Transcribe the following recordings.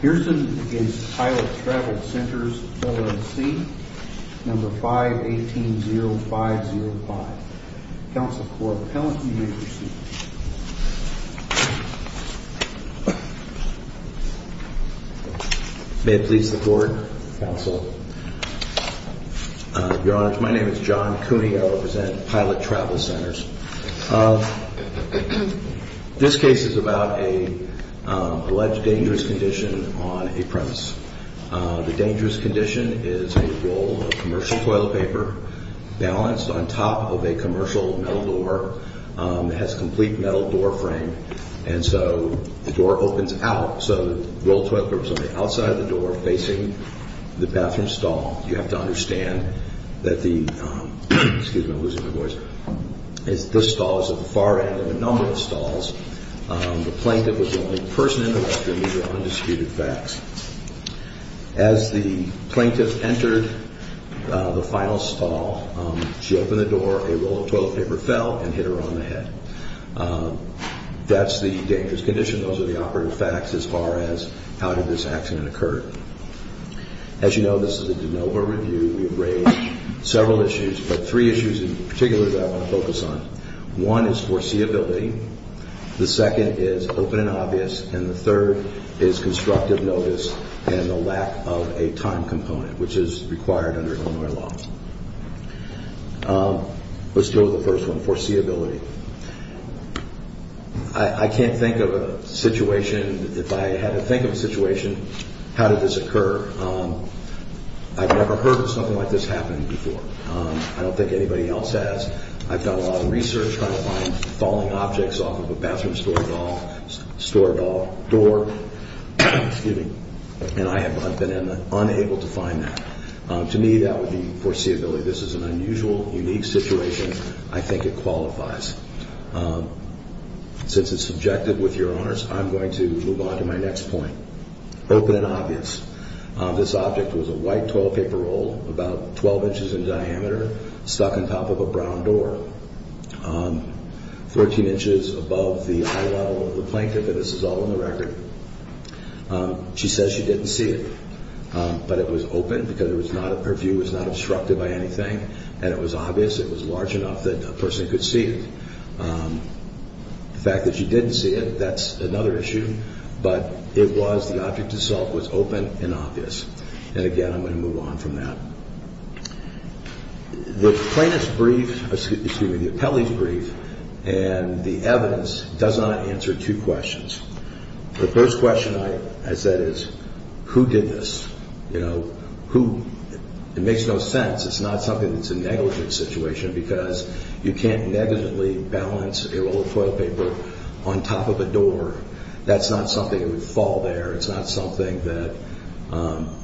Pearson v. Pilot Travel Centers, LLC, 5180505 Counsel for Appellant, you may proceed. May it please the Court, Counsel. Your Honor, my name is John Cooney. I represent Pilot Travel Centers. This case is about an alleged dangerous condition on a premise. The dangerous condition is a roll of commercial toilet paper balanced on top of a commercial metal door. It has a complete metal door frame, and so the door opens out, so the roll of toilet paper is on the outside of the door facing the bathroom stall. You have to understand that the stall is at the far end of a number of stalls. The plaintiff was the only person in the restroom. These are undisputed facts. As the plaintiff entered the final stall, she opened the door, a roll of toilet paper fell, and hit her on the head. That's the dangerous condition. Those are the operative facts as far as how did this accident occur. As you know, this is a de novo review. We have raised several issues, but three issues in particular that I want to focus on. One is foreseeability. The second is open and obvious. And the third is constructive notice and the lack of a time component, which is required under Illinois law. Let's deal with the first one, foreseeability. I can't think of a situation, if I had to think of a situation, how did this occur? I've never heard of something like this happening before. I don't think anybody else has. I've done a lot of research trying to find falling objects off of a bathroom stall door, and I've been unable to find that. To me, that would be foreseeability. This is an unusual, unique situation. I think it qualifies. Since it's subjective, with your honors, I'm going to move on to my next point, open and obvious. This object was a white toilet paper roll, about 12 inches in diameter, stuck on top of a brown door, 14 inches above the eye level of the plaintiff, and this is all on the record. She says she didn't see it, but it was open because her view was not obstructed by anything, and it was obvious. It was large enough that a person could see it. The fact that she didn't see it, that's another issue, but it was the object itself was open and obvious. And again, I'm going to move on from that. The plaintiff's brief, excuse me, the appellee's brief and the evidence does not answer two questions. The first question I said is, who did this? It makes no sense. It's not something that's a negligent situation because you can't negligently balance a roll of toilet paper on top of a door. That's not something that would fall there. It's not something that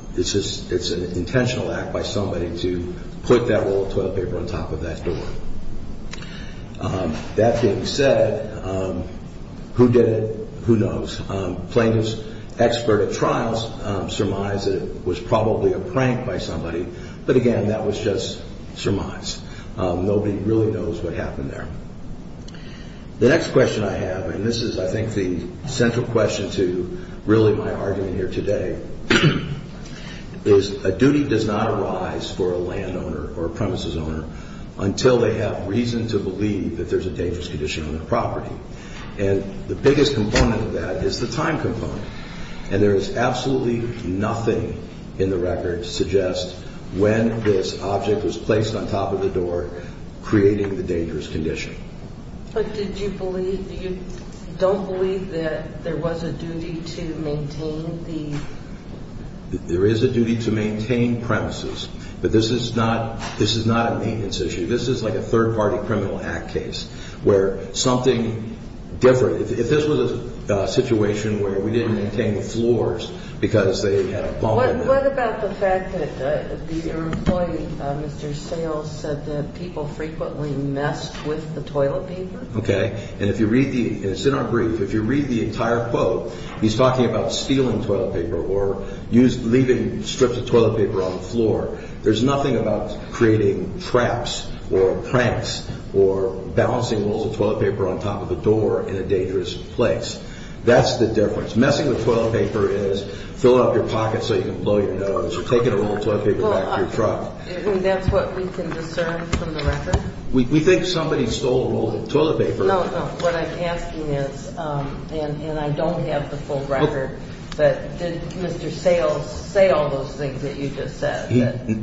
– it's an intentional act by somebody to put that roll of toilet paper on top of that door. That being said, who did it, who knows. Plaintiff's expert at trials surmised that it was probably a prank by somebody, but again, that was just surmised. Nobody really knows what happened there. The next question I have, and this is I think the central question to really my argument here today, is a duty does not arise for a landowner or a premises owner until they have reason to believe that there's a dangerous condition on the property. And the biggest component of that is the time component, and there is absolutely nothing in the record to suggest when this object was placed on top of the door, creating the dangerous condition. But did you believe – you don't believe that there was a duty to maintain the – There is a duty to maintain premises, but this is not a maintenance issue. This is like a third-party criminal act case where something different – if this was a situation where we didn't maintain the floors because they had a bomb in them. What about the fact that your employee, Mr. Sales, said that people frequently messed with the toilet paper? Okay, and if you read the – it's in our brief. If you read the entire quote, he's talking about stealing toilet paper or leaving strips of toilet paper on the floor. There's nothing about creating traps or pranks or balancing rolls of toilet paper on top of the door in a dangerous place. That's the difference. Messing with toilet paper is filling up your pockets so you can blow your nose or taking a roll of toilet paper back to your truck. And that's what we can discern from the record? We think somebody stole a roll of toilet paper. No, no. What I'm asking is – and I don't have the full record, but did Mr. Sales say all those things that you just said?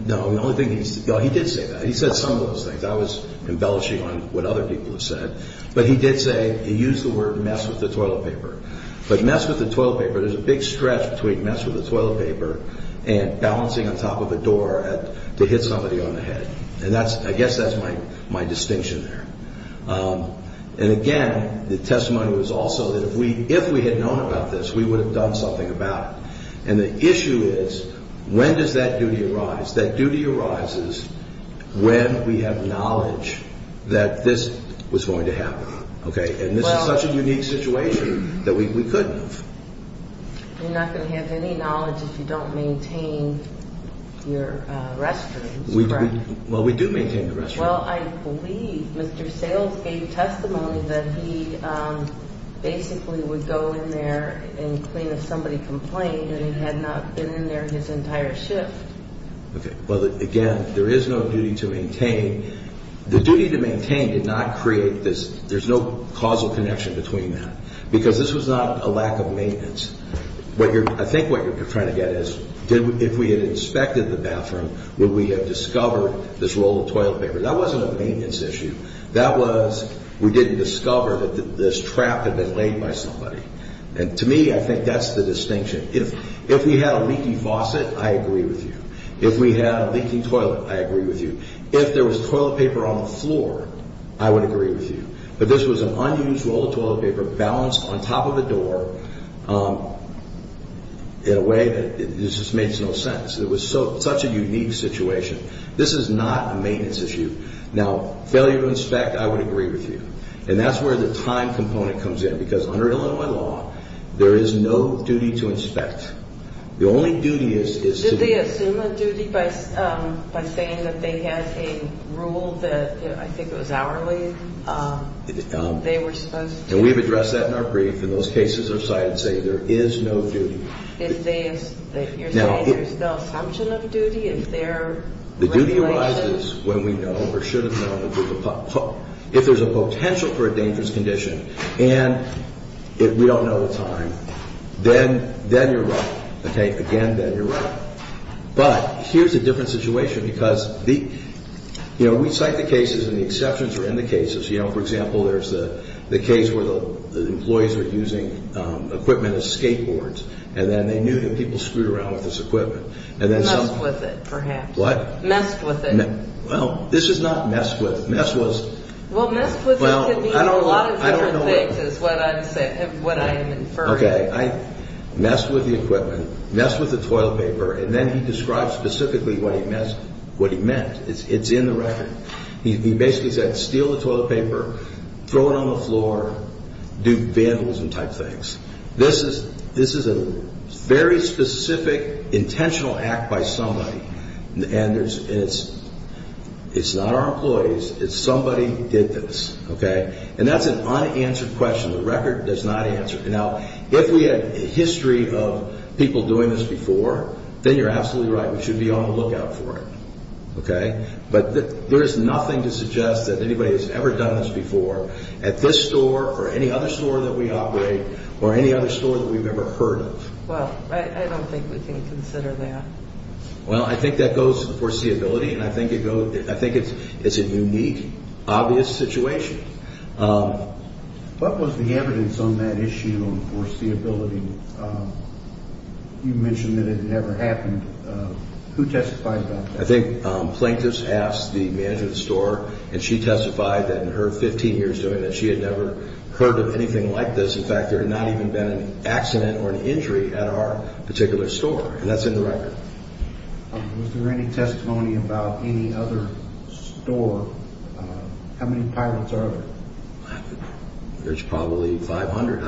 No, the only thing he – no, he did say that. He said some of those things. I was embellishing on what other people have said. But he did say – he used the word mess with the toilet paper. But mess with the toilet paper – there's a big stretch between mess with the toilet paper and balancing on top of a door to hit somebody on the head. And that's – I guess that's my distinction there. And, again, the testimony was also that if we had known about this, we would have done something about it. And the issue is when does that duty arise? And this is such a unique situation that we couldn't have. You're not going to have any knowledge if you don't maintain your restrooms. Well, we do maintain the restrooms. Well, I believe Mr. Sales gave testimony that he basically would go in there and clean if somebody complained and he had not been in there his entire shift. Well, again, there is no duty to maintain. The duty to maintain did not create this – there's no causal connection between that because this was not a lack of maintenance. I think what you're trying to get at is if we had inspected the bathroom, would we have discovered this roll of toilet paper? That wasn't a maintenance issue. That was we didn't discover that this trap had been laid by somebody. And to me, I think that's the distinction. If we had a leaky faucet, I agree with you. If we had a leaking toilet, I agree with you. If there was toilet paper on the floor, I would agree with you. But this was an unused roll of toilet paper balanced on top of a door in a way that just makes no sense. It was such a unique situation. This is not a maintenance issue. Now, failure to inspect, I would agree with you. And that's where the time component comes in because under Illinois law, there is no duty to inspect. The only duty is to – Did they assume a duty by saying that they had a rule that I think it was hourly? They were supposed to – And we've addressed that in our brief. In those cases, our side say there is no duty. You're saying there's no assumption of duty? Is there regulation? The duty arises when we know or should have known that there's a – if there's a potential for a dangerous condition and we don't know the time, then you're right. Again, then you're right. But here's a different situation because we cite the cases and the exceptions are in the cases. For example, there's the case where the employees were using equipment as skateboards and then they knew that people screwed around with this equipment. Messed with it, perhaps. What? Messed with it. Well, this is not messed with. Messed with could mean a lot of different things is what I am inferring. Okay. Messed with the equipment. Messed with the toilet paper. And then he describes specifically what he meant. It's in the record. He basically said steal the toilet paper, throw it on the floor, do vandalism type things. This is a very specific intentional act by somebody. And it's not our employees. It's somebody did this. And that's an unanswered question. The record does not answer. Now, if we had a history of people doing this before, then you're absolutely right. We should be on the lookout for it. Okay. But there is nothing to suggest that anybody has ever done this before at this store or any other store that we operate or any other store that we've ever heard of. Well, I don't think we can consider that. Well, I think that goes to the foreseeability. And I think it's a unique, obvious situation. What was the evidence on that issue on foreseeability? You mentioned that it never happened. Who testified about that? I think plaintiffs asked the manager of the store, and she testified that in her 15 years doing that she had never heard of anything like this. In fact, there had not even been an accident or an injury at our particular store. And that's in the record. Was there any testimony about any other store? How many pilots are there? There's probably 500.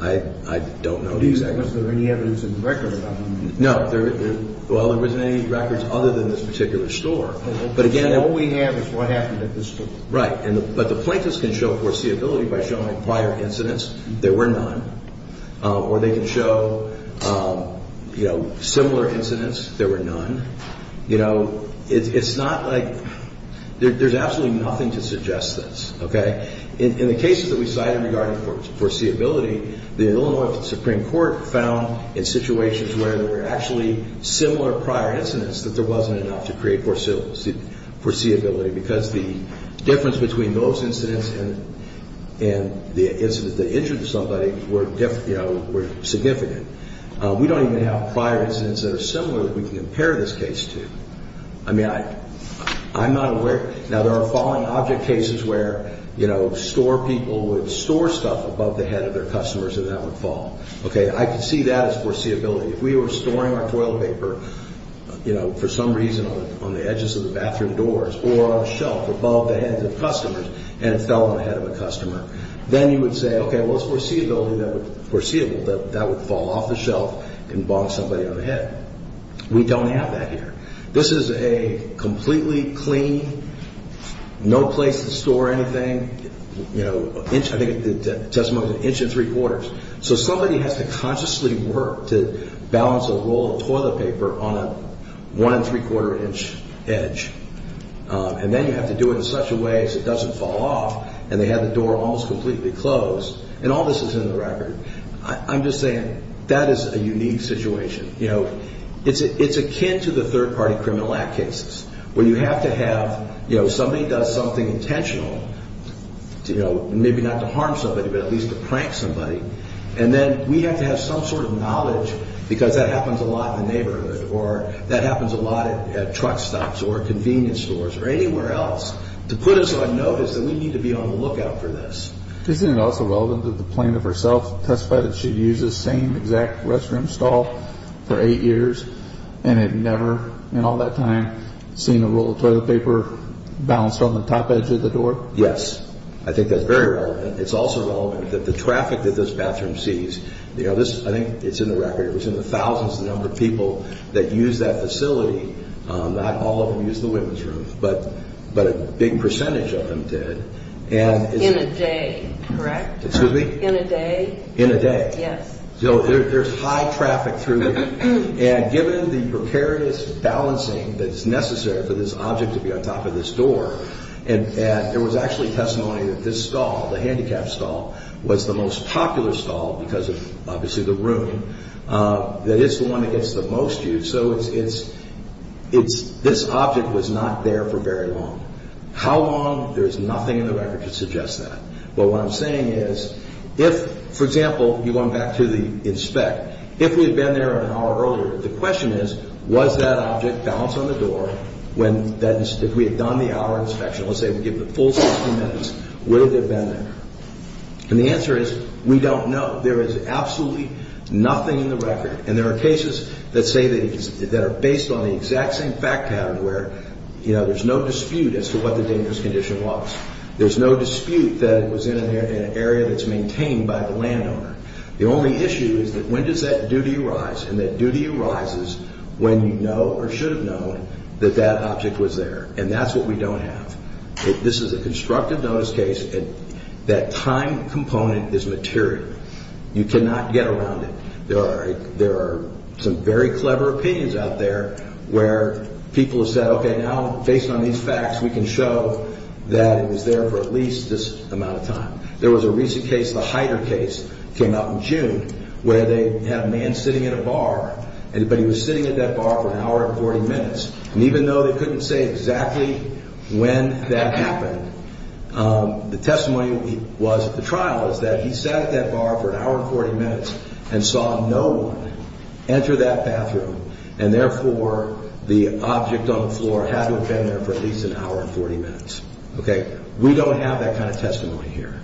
I don't know the exact numbers. Was there any evidence in the record about any of them? No. Well, there wasn't any records other than this particular store. All we have is what happened at this store. Right. But the plaintiffs can show foreseeability by showing prior incidents. There were none. Or they can show, you know, similar incidents. There were none. You know, it's not like there's absolutely nothing to suggest this. Okay? In the cases that we cited regarding foreseeability, the Illinois Supreme Court found in situations where there were actually similar prior incidents that there wasn't enough to create foreseeability because the difference between those incidents and the incidents that injured somebody were significant. We don't even have prior incidents that are similar that we can compare this case to. I mean, I'm not aware. Now, there are falling object cases where, you know, store people would store stuff above the head of their customers and that would fall. Okay? I can see that as foreseeability. If we were storing our toilet paper, you know, for some reason on the edges of the bathroom doors or on a shelf above the heads of customers and it fell on the head of a customer, then you would say, okay, well, it's foreseeability that would fall off the shelf and bonk somebody on the head. We don't have that here. This is a completely clean, no place to store anything, you know, I think the testimony was an inch and three quarters. So somebody has to consciously work to balance a roll of toilet paper on a one and three quarter inch edge. And then you have to do it in such a way as it doesn't fall off and they had the door almost completely closed. And all this is in the record. I'm just saying that is a unique situation. You know, it's akin to the third party criminal act cases where you have to have, you know, somebody does something intentional, you know, maybe not to harm somebody, but at least to prank somebody. And then we have to have some sort of knowledge because that happens a lot in the neighborhood or that happens a lot at truck stops or convenience stores or anywhere else to put us on notice that we need to be on the lookout for this. Isn't it also relevant that the plaintiff herself testified that she'd used the same exact restroom stall for eight years and had never in all that time seen a roll of toilet paper balanced on the top edge of the door? Yes. I think that's very relevant. It's also relevant that the traffic that this bathroom sees, you know, this, I think it's in the record, it was in the thousands of the number of people that use that facility, not all of them use the women's room, but a big percentage of them did. In a day, correct? Excuse me? In a day? In a day. Yes. So there's high traffic through here. And given the precarious balancing that's necessary for this object to be on top of this door, and there was actually testimony that this stall, the handicapped stall, was the most popular stall because of obviously the room, that it's the one that gets the most use. So it's this object was not there for very long. How long? There's nothing in the record to suggest that. But what I'm saying is if, for example, you're going back to the inspect, if we had been there an hour earlier, the question is was that object balanced on the door when if we had done the hour inspection, let's say we give it a full 60 minutes, would it have been there? And the answer is we don't know. There is absolutely nothing in the record. And there are cases that say that are based on the exact same fact pattern where there's no dispute as to what the dangerous condition was. There's no dispute that it was in an area that's maintained by the landowner. The only issue is that when does that duty arise? And that duty arises when you know or should have known that that object was there. And that's what we don't have. This is a constructive notice case. That time component is material. You cannot get around it. There are some very clever opinions out there where people have said, okay, now based on these facts we can show that it was there for at least this amount of time. There was a recent case, the Heider case, came out in June, where they had a man sitting at a bar, but he was sitting at that bar for an hour and 40 minutes. And even though they couldn't say exactly when that happened, the testimony was at the trial is that he sat at that bar for an hour and 40 minutes and saw no one enter that bathroom, and therefore the object on the floor had to have been there for at least an hour and 40 minutes. Okay? We don't have that kind of testimony here.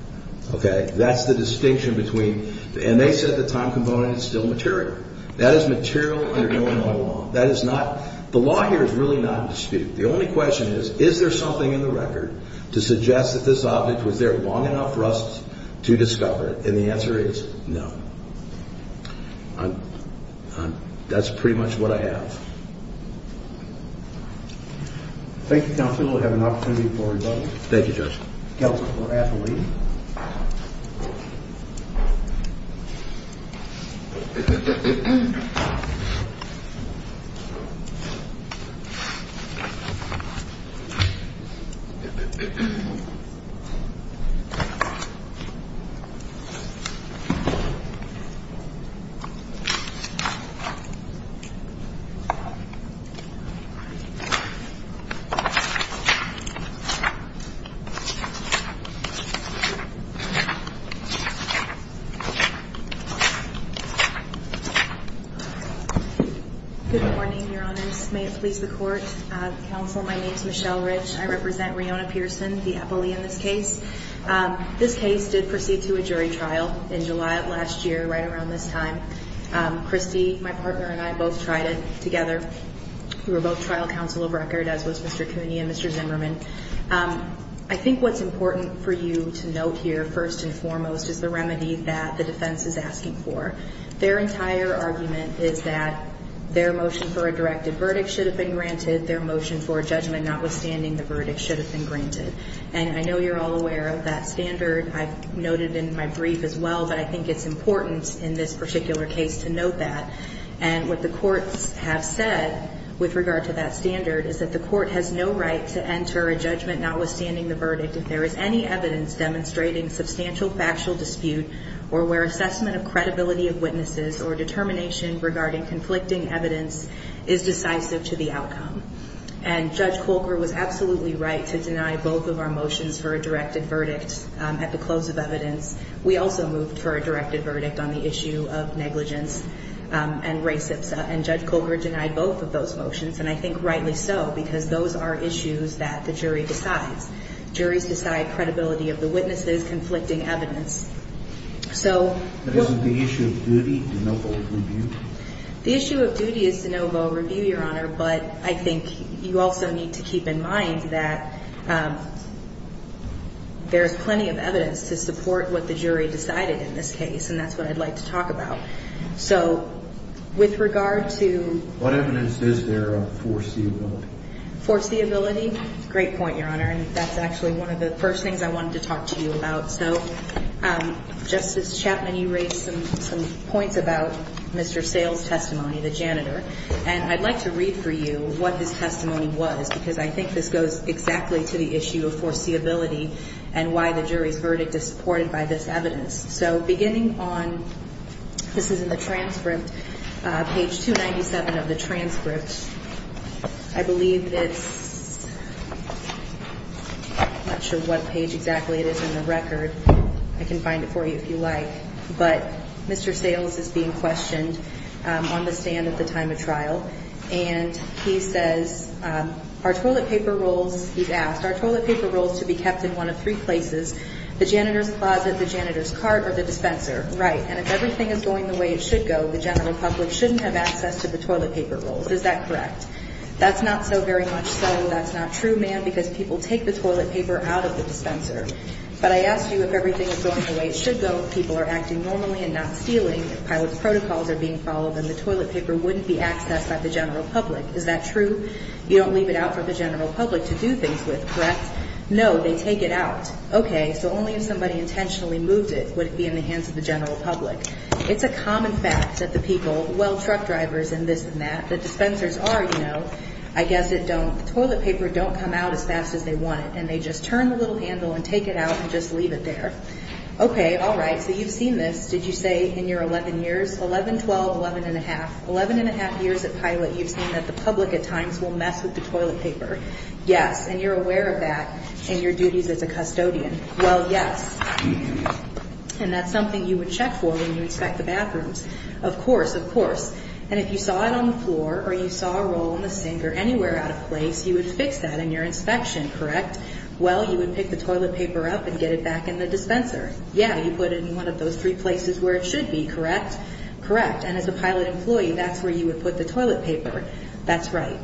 Okay? That's the distinction between, and they said the time component is still material. That is material under Illinois law. That is not, the law here is really not in dispute. The only question is, is there something in the record to suggest that this object, was there long enough for us to discover it? And the answer is no. That's pretty much what I have. Thank you, counsel. We'll have an opportunity for another. Thank you, Judge. Counsel, we'll ask the lady. Good morning, Your Honors. May it please the Court. Counsel, my name is Michelle Rich. I represent Riona Pearson, the appellee in this case. This case did proceed to a jury trial in July of last year, right around this time. Christy, my partner, and I both tried it together. We were both trial counsel of record, as was Mr. Cooney and Mr. Zimmerman. I think what's important for you to note here, first and foremost, is the remedy that the defense is asking for. Their entire argument is that their motion for a directed verdict should have been granted, their motion for a judgment notwithstanding the verdict should have been granted. And I know you're all aware of that standard. I've noted it in my brief as well, but I think it's important in this particular case to note that. And what the courts have said, with regard to that standard, is that the court has no right to enter a judgment notwithstanding the verdict if there is any evidence demonstrating substantial factual dispute or where assessment of credibility of witnesses or determination regarding conflicting evidence is decisive to the outcome. And Judge Kolker was absolutely right to deny both of our motions for a directed verdict at the close of evidence. We also moved for a directed verdict on the issue of negligence and res ipsa, and Judge Kolker denied both of those motions, and I think rightly so, because those are issues that the jury decides. Juries decide credibility of the witnesses, conflicting evidence. But isn't the issue of duty de novo review? The issue of duty is de novo review, Your Honor, but I think you also need to keep in mind that there is plenty of evidence to support what the jury decided in this case, and that's what I'd like to talk about. So with regard to... What evidence is there of foreseeability? Foreseeability? Great point, Your Honor, and that's actually one of the first things I wanted to talk to you about. So, Justice Chapman, you raised some points about Mr. Sale's testimony, the janitor, and I'd like to read for you what his testimony was, because I think this goes exactly to the issue of foreseeability and why the jury's verdict is supported by this evidence. So beginning on... This is in the transcript, page 297 of the transcript. I believe it's... I'm not sure what page exactly it is in the record. I can find it for you if you like. But Mr. Sale's is being questioned on the stand at the time of trial, and he says, He's asked... Right. Is that correct? That's not so very much so. That's not true, ma'am, because people take the toilet paper out of the dispenser. But I asked you if everything is going the way it should go, if people are acting normally and not stealing, if pilot protocols are being followed, then the toilet paper wouldn't be accessed by the general public. Is that true? You don't leave it out for the general public to do things with, correct? No, they take it out. Okay, so only if somebody intentionally moved it would it be in the hands of the general public. It's a common fact that the people, well, truck drivers and this and that, the dispensers are, you know, I guess it don't... Toilet paper don't come out as fast as they want it, and they just turn the little handle and take it out and just leave it there. Okay, all right, so you've seen this. Did you say in your 11 years, 11, 12, 11 1⁄2, 11 1⁄2 years at pilot you've seen that the public at times will mess with the toilet paper. Yes, and you're aware of that in your duties as a custodian. Well, yes. And that's something you would check for when you inspect the bathrooms. Of course, of course. And if you saw it on the floor or you saw a roll in the sink or anywhere out of place, you would fix that in your inspection, correct? Well, you would pick the toilet paper up and get it back in the dispenser. Yeah, you put it in one of those three places where it should be, correct? Correct, and as a pilot employee, that's where you would put the toilet paper. That's right.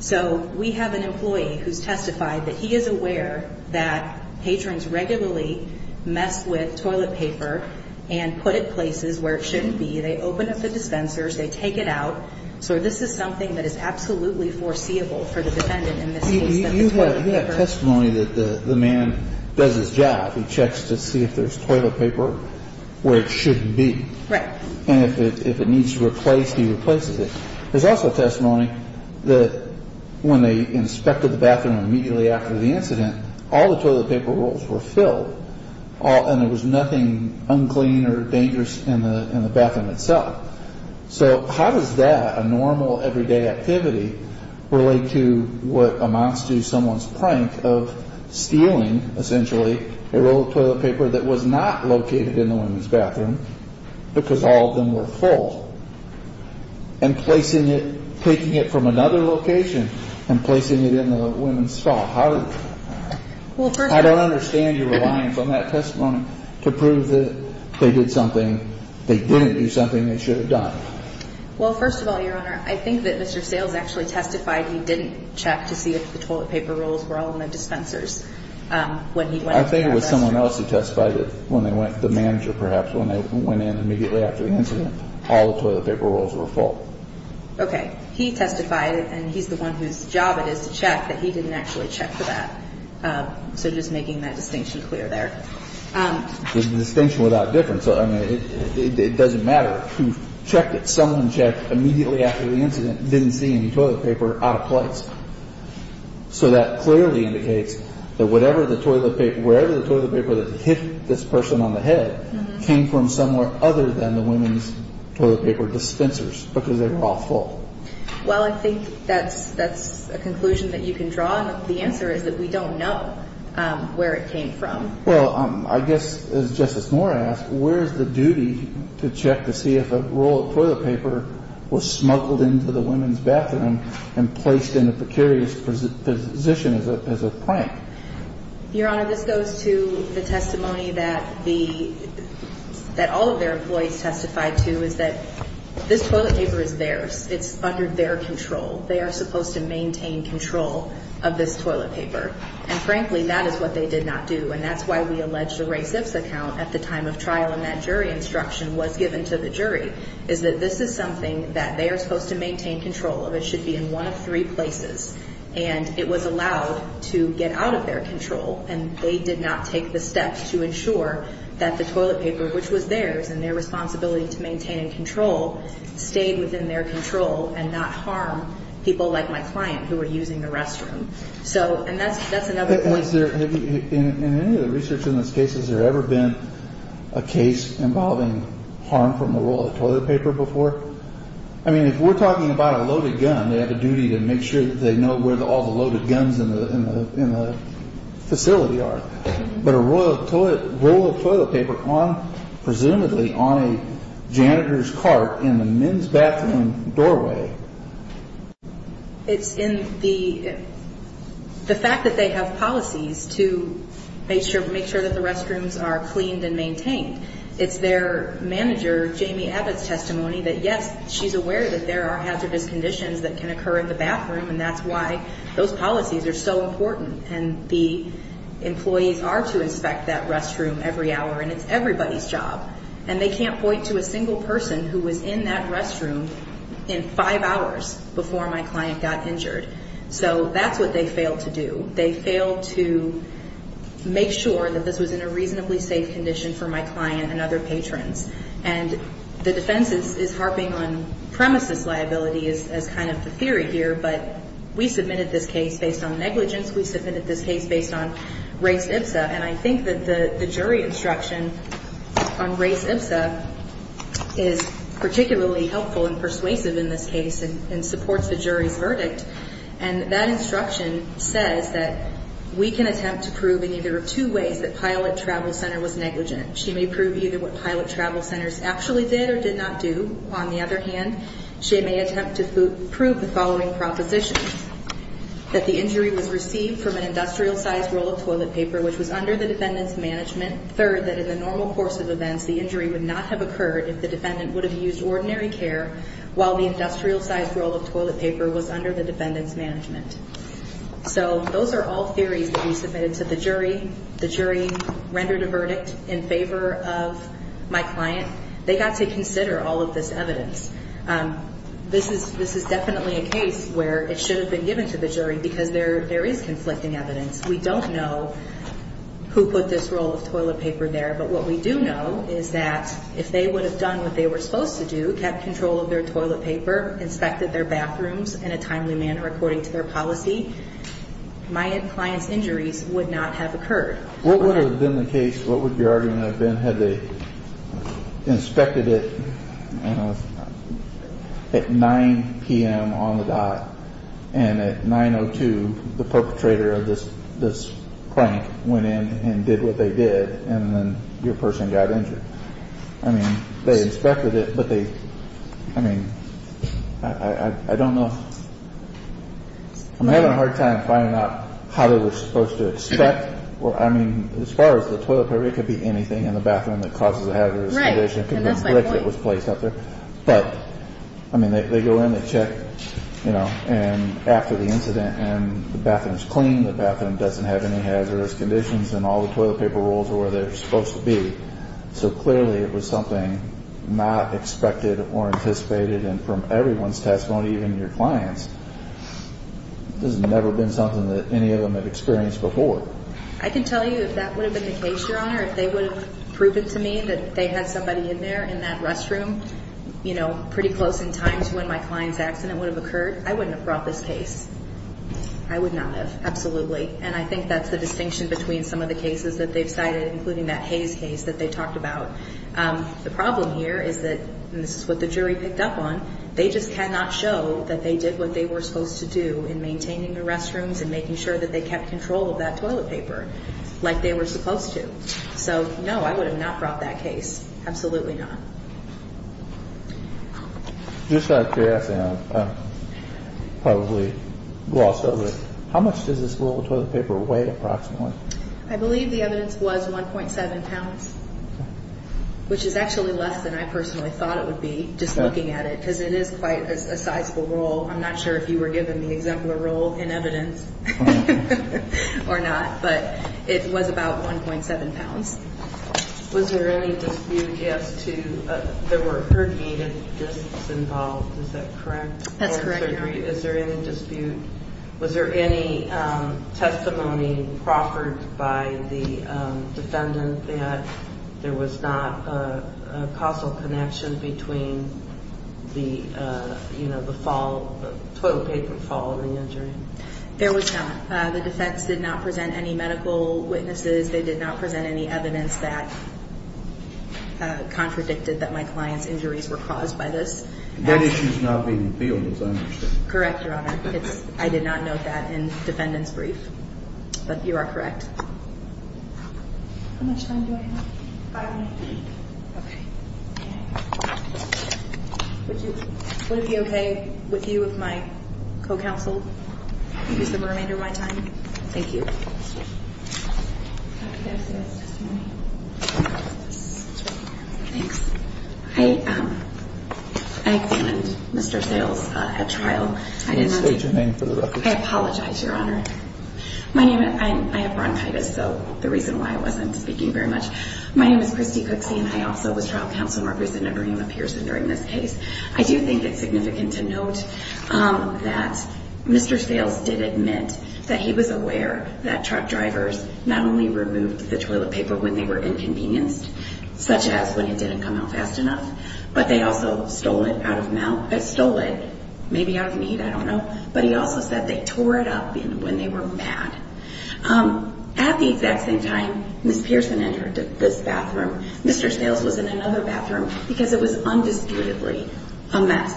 So we have an employee who's testified that he is aware that patrons regularly mess with toilet paper and put it places where it shouldn't be. They open up the dispensers, they take it out. So this is something that is absolutely foreseeable for the defendant in this case. You have testimony that the man does his job. He checks to see if there's toilet paper where it shouldn't be. Right. And if it needs to be replaced, he replaces it. There's also testimony that when they inspected the bathroom immediately after the incident, all the toilet paper rolls were filled and there was nothing unclean or dangerous in the bathroom itself. So how does that, a normal, everyday activity, relate to what amounts to someone's prank of stealing, essentially, a roll of toilet paper that was not located in the women's bathroom because all of them were full, and placing it, taking it from another location, and placing it in the women's stall? I don't understand your reliance on that testimony to prove that they did something, they didn't do something they should have done. Well, first of all, Your Honor, I think that Mr. Sales actually testified he didn't check to see if the toilet paper rolls were all in the dispensers when he went into the bathroom. I think it was someone else who testified when they went, the manager perhaps, when they went in immediately after the incident, all the toilet paper rolls were full. Okay. He testified, and he's the one whose job it is to check, that he didn't actually check for that. So just making that distinction clear there. There's a distinction without difference. I mean, it doesn't matter who checked it. Someone checked immediately after the incident, didn't see any toilet paper out of place. So that clearly indicates that whatever the toilet paper, wherever the toilet paper that hit this person on the head, came from somewhere other than the women's toilet paper dispensers, because they were all full. Well, I think that's a conclusion that you can draw, and the answer is that we don't know where it came from. Well, I guess, as Justice Moore asked, where is the duty to check to see if a roll of toilet paper was smuggled into the women's bathroom and placed in a precarious position as a prank? Your Honor, this goes to the testimony that all of their employees testified to, is that this toilet paper is theirs. It's under their control. They are supposed to maintain control of this toilet paper. And frankly, that is what they did not do, and that's why we alleged a race-ifs account at the time of trial and that jury instruction was given to the jury, is that this is something that they are supposed to maintain control of. It should be in one of three places. And it was allowed to get out of their control, and they did not take the steps to ensure that the toilet paper, which was theirs and their responsibility to maintain and control, stayed within their control and not harm people like my client who were using the restroom. So, and that's another point. In any of the research in this case, has there ever been a case involving harm from a roll of toilet paper before? I mean, if we're talking about a loaded gun, they have a duty to make sure that they know where all the loaded guns in the facility are. But a roll of toilet paper presumably on a janitor's cart in the men's bathroom doorway. It's in the fact that they have policies to make sure that the restrooms are cleaned and maintained. It's their manager, Jamie Abbott's testimony, that yes, she's aware that there are hazardous conditions that can occur in the bathroom, and that's why those policies are so important. And the employees are to inspect that restroom every hour, and it's everybody's job. And they can't point to a single person who was in that restroom in five hours before my client got injured. So that's what they failed to do. They failed to make sure that this was in a reasonably safe condition for my client and other patrons. And the defense is harping on premises liability as kind of the theory here, but we submitted this case based on negligence. We submitted this case based on res ipsa. And I think that the jury instruction on res ipsa is particularly helpful and persuasive in this case and supports the jury's verdict. And that instruction says that we can attempt to prove in either of two ways that Pilot Travel Center was negligent. She may prove either what Pilot Travel Centers actually did or did not do. On the other hand, she may attempt to prove the following propositions, that the injury was received from an industrial-sized roll of toilet paper which was under the defendant's management. Third, that in the normal course of events, the injury would not have occurred if the defendant would have used ordinary care while the industrial-sized roll of toilet paper was under the defendant's management. So those are all theories that we submitted to the jury. The jury rendered a verdict in favor of my client. They got to consider all of this evidence. This is definitely a case where it should have been given to the jury because there is conflicting evidence. We don't know who put this roll of toilet paper there, but what we do know is that if they would have done what they were supposed to do, kept control of their toilet paper, inspected their bathrooms in a timely manner according to their policy, my client's injuries would not have occurred. What would have been the case, what would your argument have been had they inspected it at 9 p.m. on the dot and at 9.02 the perpetrator of this prank went in and did what they did and then your person got injured? I mean, they inspected it, but they, I mean, I don't know. I'm having a hard time finding out how they were supposed to inspect. I mean, as far as the toilet paper, it could be anything in the bathroom that causes a hazardous condition. It could be a brick that was placed up there. But, I mean, they go in, they check, you know, and after the incident and the bathroom is clean, the bathroom doesn't have any hazardous conditions and all the toilet paper rolls are where they're supposed to be. So clearly it was something not expected or anticipated and from everyone's testimony, even your clients, this has never been something that any of them have experienced before. I can tell you if that would have been the case, Your Honor, if they would have proven to me that they had somebody in there in that restroom, you know, pretty close in time to when my client's accident would have occurred, I wouldn't have brought this case. I would not have, absolutely. And I think that's the distinction between some of the cases that they've cited, including that Hayes case that they talked about. The problem here is that, and this is what the jury picked up on, they just cannot show that they did what they were supposed to do in maintaining the restrooms and making sure that they kept control of that toilet paper like they were supposed to. So, no, I would have not brought that case. Absolutely not. Just out of curiosity, and I've probably glossed over it, how much does this little toilet paper weigh approximately? I believe the evidence was 1.7 pounds, which is actually less than I personally thought it would be, just looking at it, because it is quite a sizable roll. I'm not sure if you were given the exemplar roll in evidence or not, but it was about 1.7 pounds. Was there any dispute as to, there were herniated discs involved, is that correct? That's correct, Your Honor. Is there any dispute, was there any testimony proffered by the defendant that there was not a causal connection between the toilet paper fall and the injury? There was not. The defects did not present any medical witnesses. They did not present any evidence that contradicted that my client's injuries were caused by this. That issue is not being appealed, as I understand. Correct, Your Honor. I did not note that in the defendant's brief, but you are correct. How much time do I have? Five minutes. Okay. Would it be okay with you if my co-counsel used the remainder of my time? Thank you. Dr. Sales, testimony. Thanks. I examined Mr. Sales at trial. State your name for the record. I apologize, Your Honor. I have bronchitis, so the reason why I wasn't speaking very much. My name is Christy Cooksey, and I also was trial counsel and representative for Emma Pearson during this case. I do think it's significant to note that Mr. Sales did admit that he was aware that truck drivers not only removed the toilet paper when they were inconvenienced, such as when it didn't come out fast enough, but they also stole it out of need, I don't know. But he also said they tore it up when they were mad. At the exact same time Ms. Pearson entered this bathroom, Mr. Sales was in another bathroom because it was undisputedly a mess.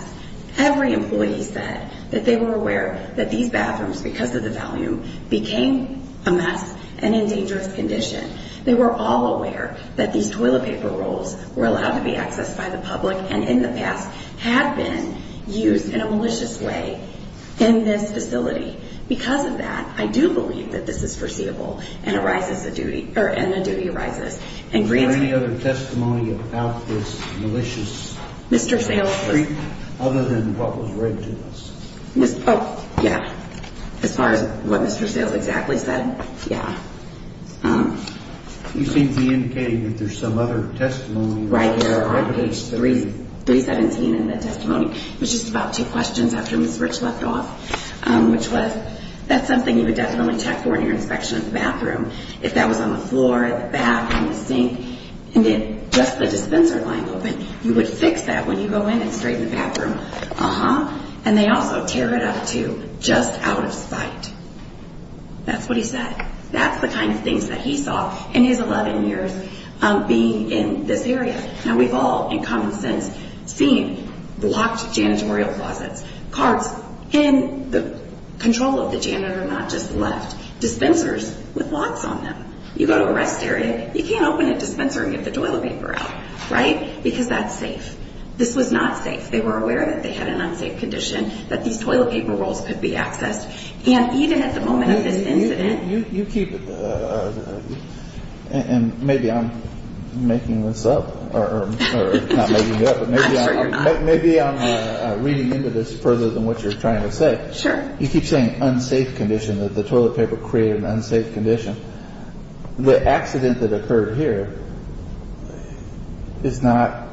Every employee said that they were aware that these bathrooms, because of the volume, became a mess and in dangerous condition. They were all aware that these toilet paper rolls were allowed to be accessed by the public and in the past had been used in a malicious way in this facility. Because of that, I do believe that this is foreseeable and a duty arises. Is there any other testimony about this malicious streak other than what was read to us? Oh, yeah. As far as what Mr. Sales exactly said, yeah. You seem to be indicating that there's some other testimony. Right there on page 317 in the testimony. It was just about two questions after Ms. Rich left off, which was, that's something you would definitely check for in your inspection of the bathroom. If that was on the floor, in the back, in the sink, and then just the dispenser lying open, you would fix that when you go in and straighten the bathroom. And they also tear it up to just out of sight. That's what he said. That's the kind of things that he saw in his 11 years being in this area. And we've all, in common sense, seen blocked janitorial closets, carts, and the control of the janitor not just left. Dispensers with locks on them. You go to a rest area, you can't open a dispenser and get the toilet paper out. Right? Because that's safe. This was not safe. They were aware that they had an unsafe condition, that these toilet paper rolls could be accessed. And even at the moment of this incident. You keep it. And maybe I'm making this up. Or not making it up. I'm sure you're not. Maybe I'm reading into this further than what you're trying to say. Sure. You keep saying unsafe condition, that the toilet paper created an unsafe condition. The accident that occurred here is not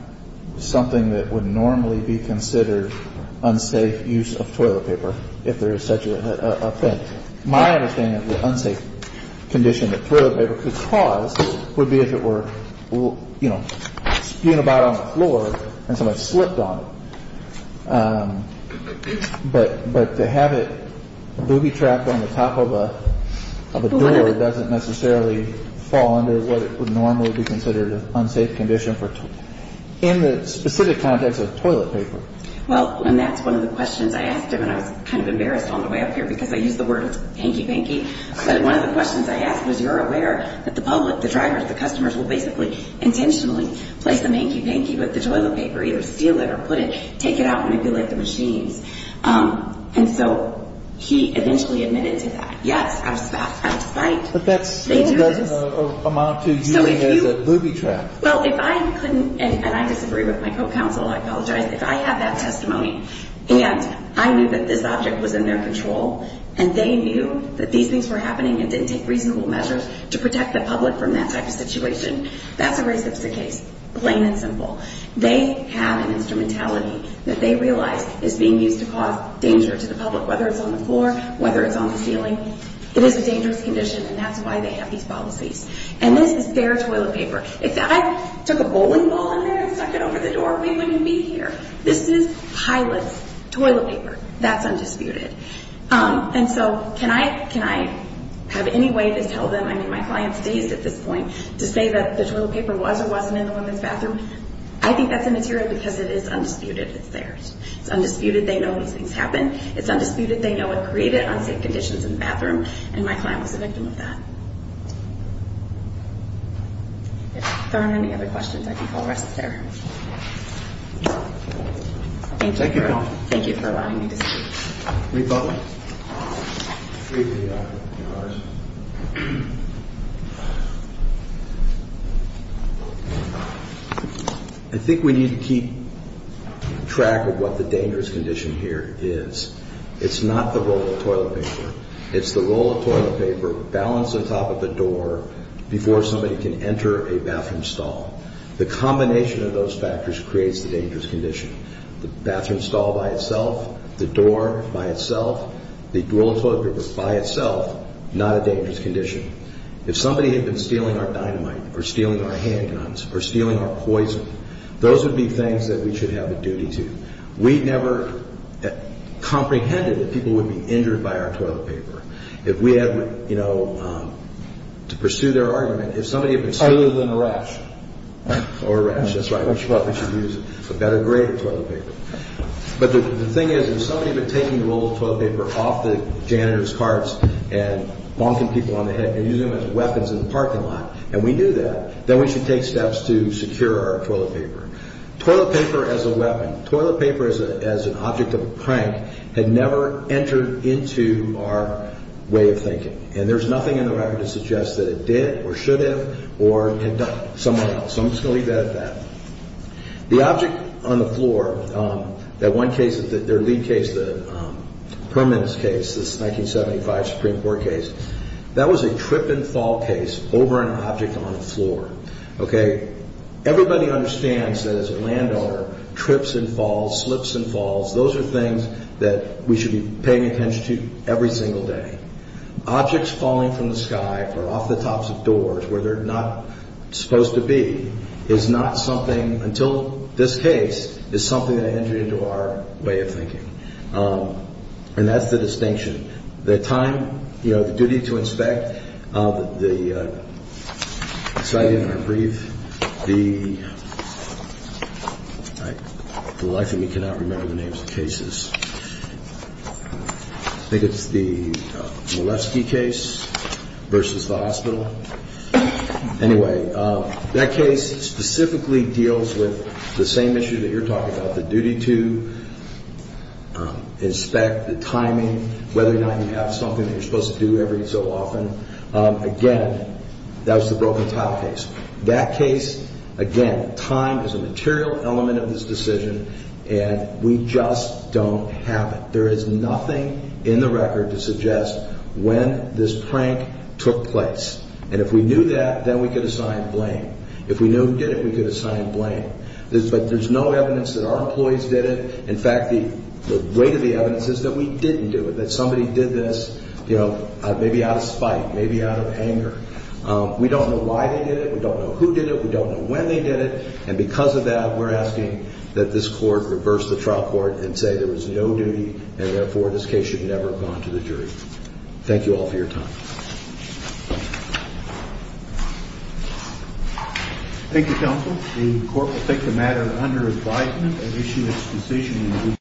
something that would normally be considered unsafe use of toilet paper, if there is such a thing. My understanding of the unsafe condition that toilet paper could cause would be if it were, you know, spewing about on the floor and someone slipped on it. But to have it booby-trapped on the top of a door doesn't necessarily fall under what would normally be considered an unsafe condition in the specific context of toilet paper. Well, and that's one of the questions I asked him, and I was kind of embarrassed on the way up here because I used the word hanky-panky. But one of the questions I asked was, because you're aware that the public, the drivers, the customers will basically intentionally place the hanky-panky with the toilet paper, either steal it or put it, take it out and manipulate the machines. And so he eventually admitted to that. Yes, I was spiked. But that still doesn't amount to using it as a booby-trap. Well, if I couldn't, and I disagree with my co-counsel, I apologize. If I have that testimony, and I knew that this object was in their control, and they knew that these things were happening and didn't take reasonable measures to protect the public from that type of situation, that's a racist case, plain and simple. They have an instrumentality that they realize is being used to cause danger to the public, whether it's on the floor, whether it's on the ceiling. It is a dangerous condition, and that's why they have these policies. And this is their toilet paper. If I took a bowling ball in there and stuck it over the door, we wouldn't be here. This is pilot's toilet paper. That's undisputed. And so can I have any way to tell them, I mean, my client's dazed at this point, to say that the toilet paper was or wasn't in the women's bathroom? I think that's immaterial because it is undisputed. It's theirs. It's undisputed. They know these things happen. It's undisputed. They know it created unsafe conditions in the bathroom, and my client was a victim of that. If there aren't any other questions, I think I'll rest there. Thank you. Thank you for allowing me to speak. We vote. I think we need to keep track of what the dangerous condition here is. It's not the roll of toilet paper. It's the roll of toilet paper balanced on top of the door before somebody can enter a bathroom stall. The combination of those factors creates the dangerous condition. The bathroom stall by itself, the door by itself, the roll of toilet paper by itself, not a dangerous condition. If somebody had been stealing our dynamite or stealing our handguns or stealing our poison, those would be things that we should have a duty to. We never comprehended that people would be injured by our toilet paper. If we had, you know, to pursue their argument, if somebody had been stealing... Other than a rash. Or a rash. That's right. We thought we should use a better grade of toilet paper. But the thing is, if somebody had been taking the roll of toilet paper off the janitor's carts and bonking people on the head and using them as weapons in the parking lot, and we do that, then we should take steps to secure our toilet paper. Toilet paper as a weapon. Toilet paper as an object of a prank had never entered into our way of thinking. And there's nothing in the record that suggests that it did or should have or had done somewhere else. So I'm just going to leave that at that. The object on the floor, that one case, their lead case, the Permanence case, this 1975 Supreme Court case, that was a trip and fall case over an object on the floor. Everybody understands that as a landowner, trips and falls, slips and falls, those are things that we should be paying attention to every single day. Objects falling from the sky or off the tops of doors where they're not supposed to be is not something, until this case, is something that entered into our way of thinking. And that's the distinction. The time, you know, the duty to inspect, the exciting or brief, the life of me cannot remember the names of cases. I think it's the Molesky case versus the hospital. Anyway, that case specifically deals with the same issue that you're talking about, the duty to inspect, the timing, whether or not you have something that you're supposed to do every so often. Again, that was the broken tile case. That case, again, time is a material element of this decision, and we just don't have it. There is nothing in the record to suggest when this prank took place. And if we knew that, then we could assign blame. If we knew we did it, we could assign blame. But there's no evidence that our employees did it. In fact, the weight of the evidence is that we didn't do it, that somebody did this, you know, maybe out of spite, maybe out of anger. We don't know why they did it. We don't know who did it. We don't know when they did it. And because of that, we're asking that this court reverse the trial court and say there was no duty, and therefore this case should never have gone to the jury. Thank you all for your time. Thank you, counsel. The court will take the matter under advisement and issue its decision in due course.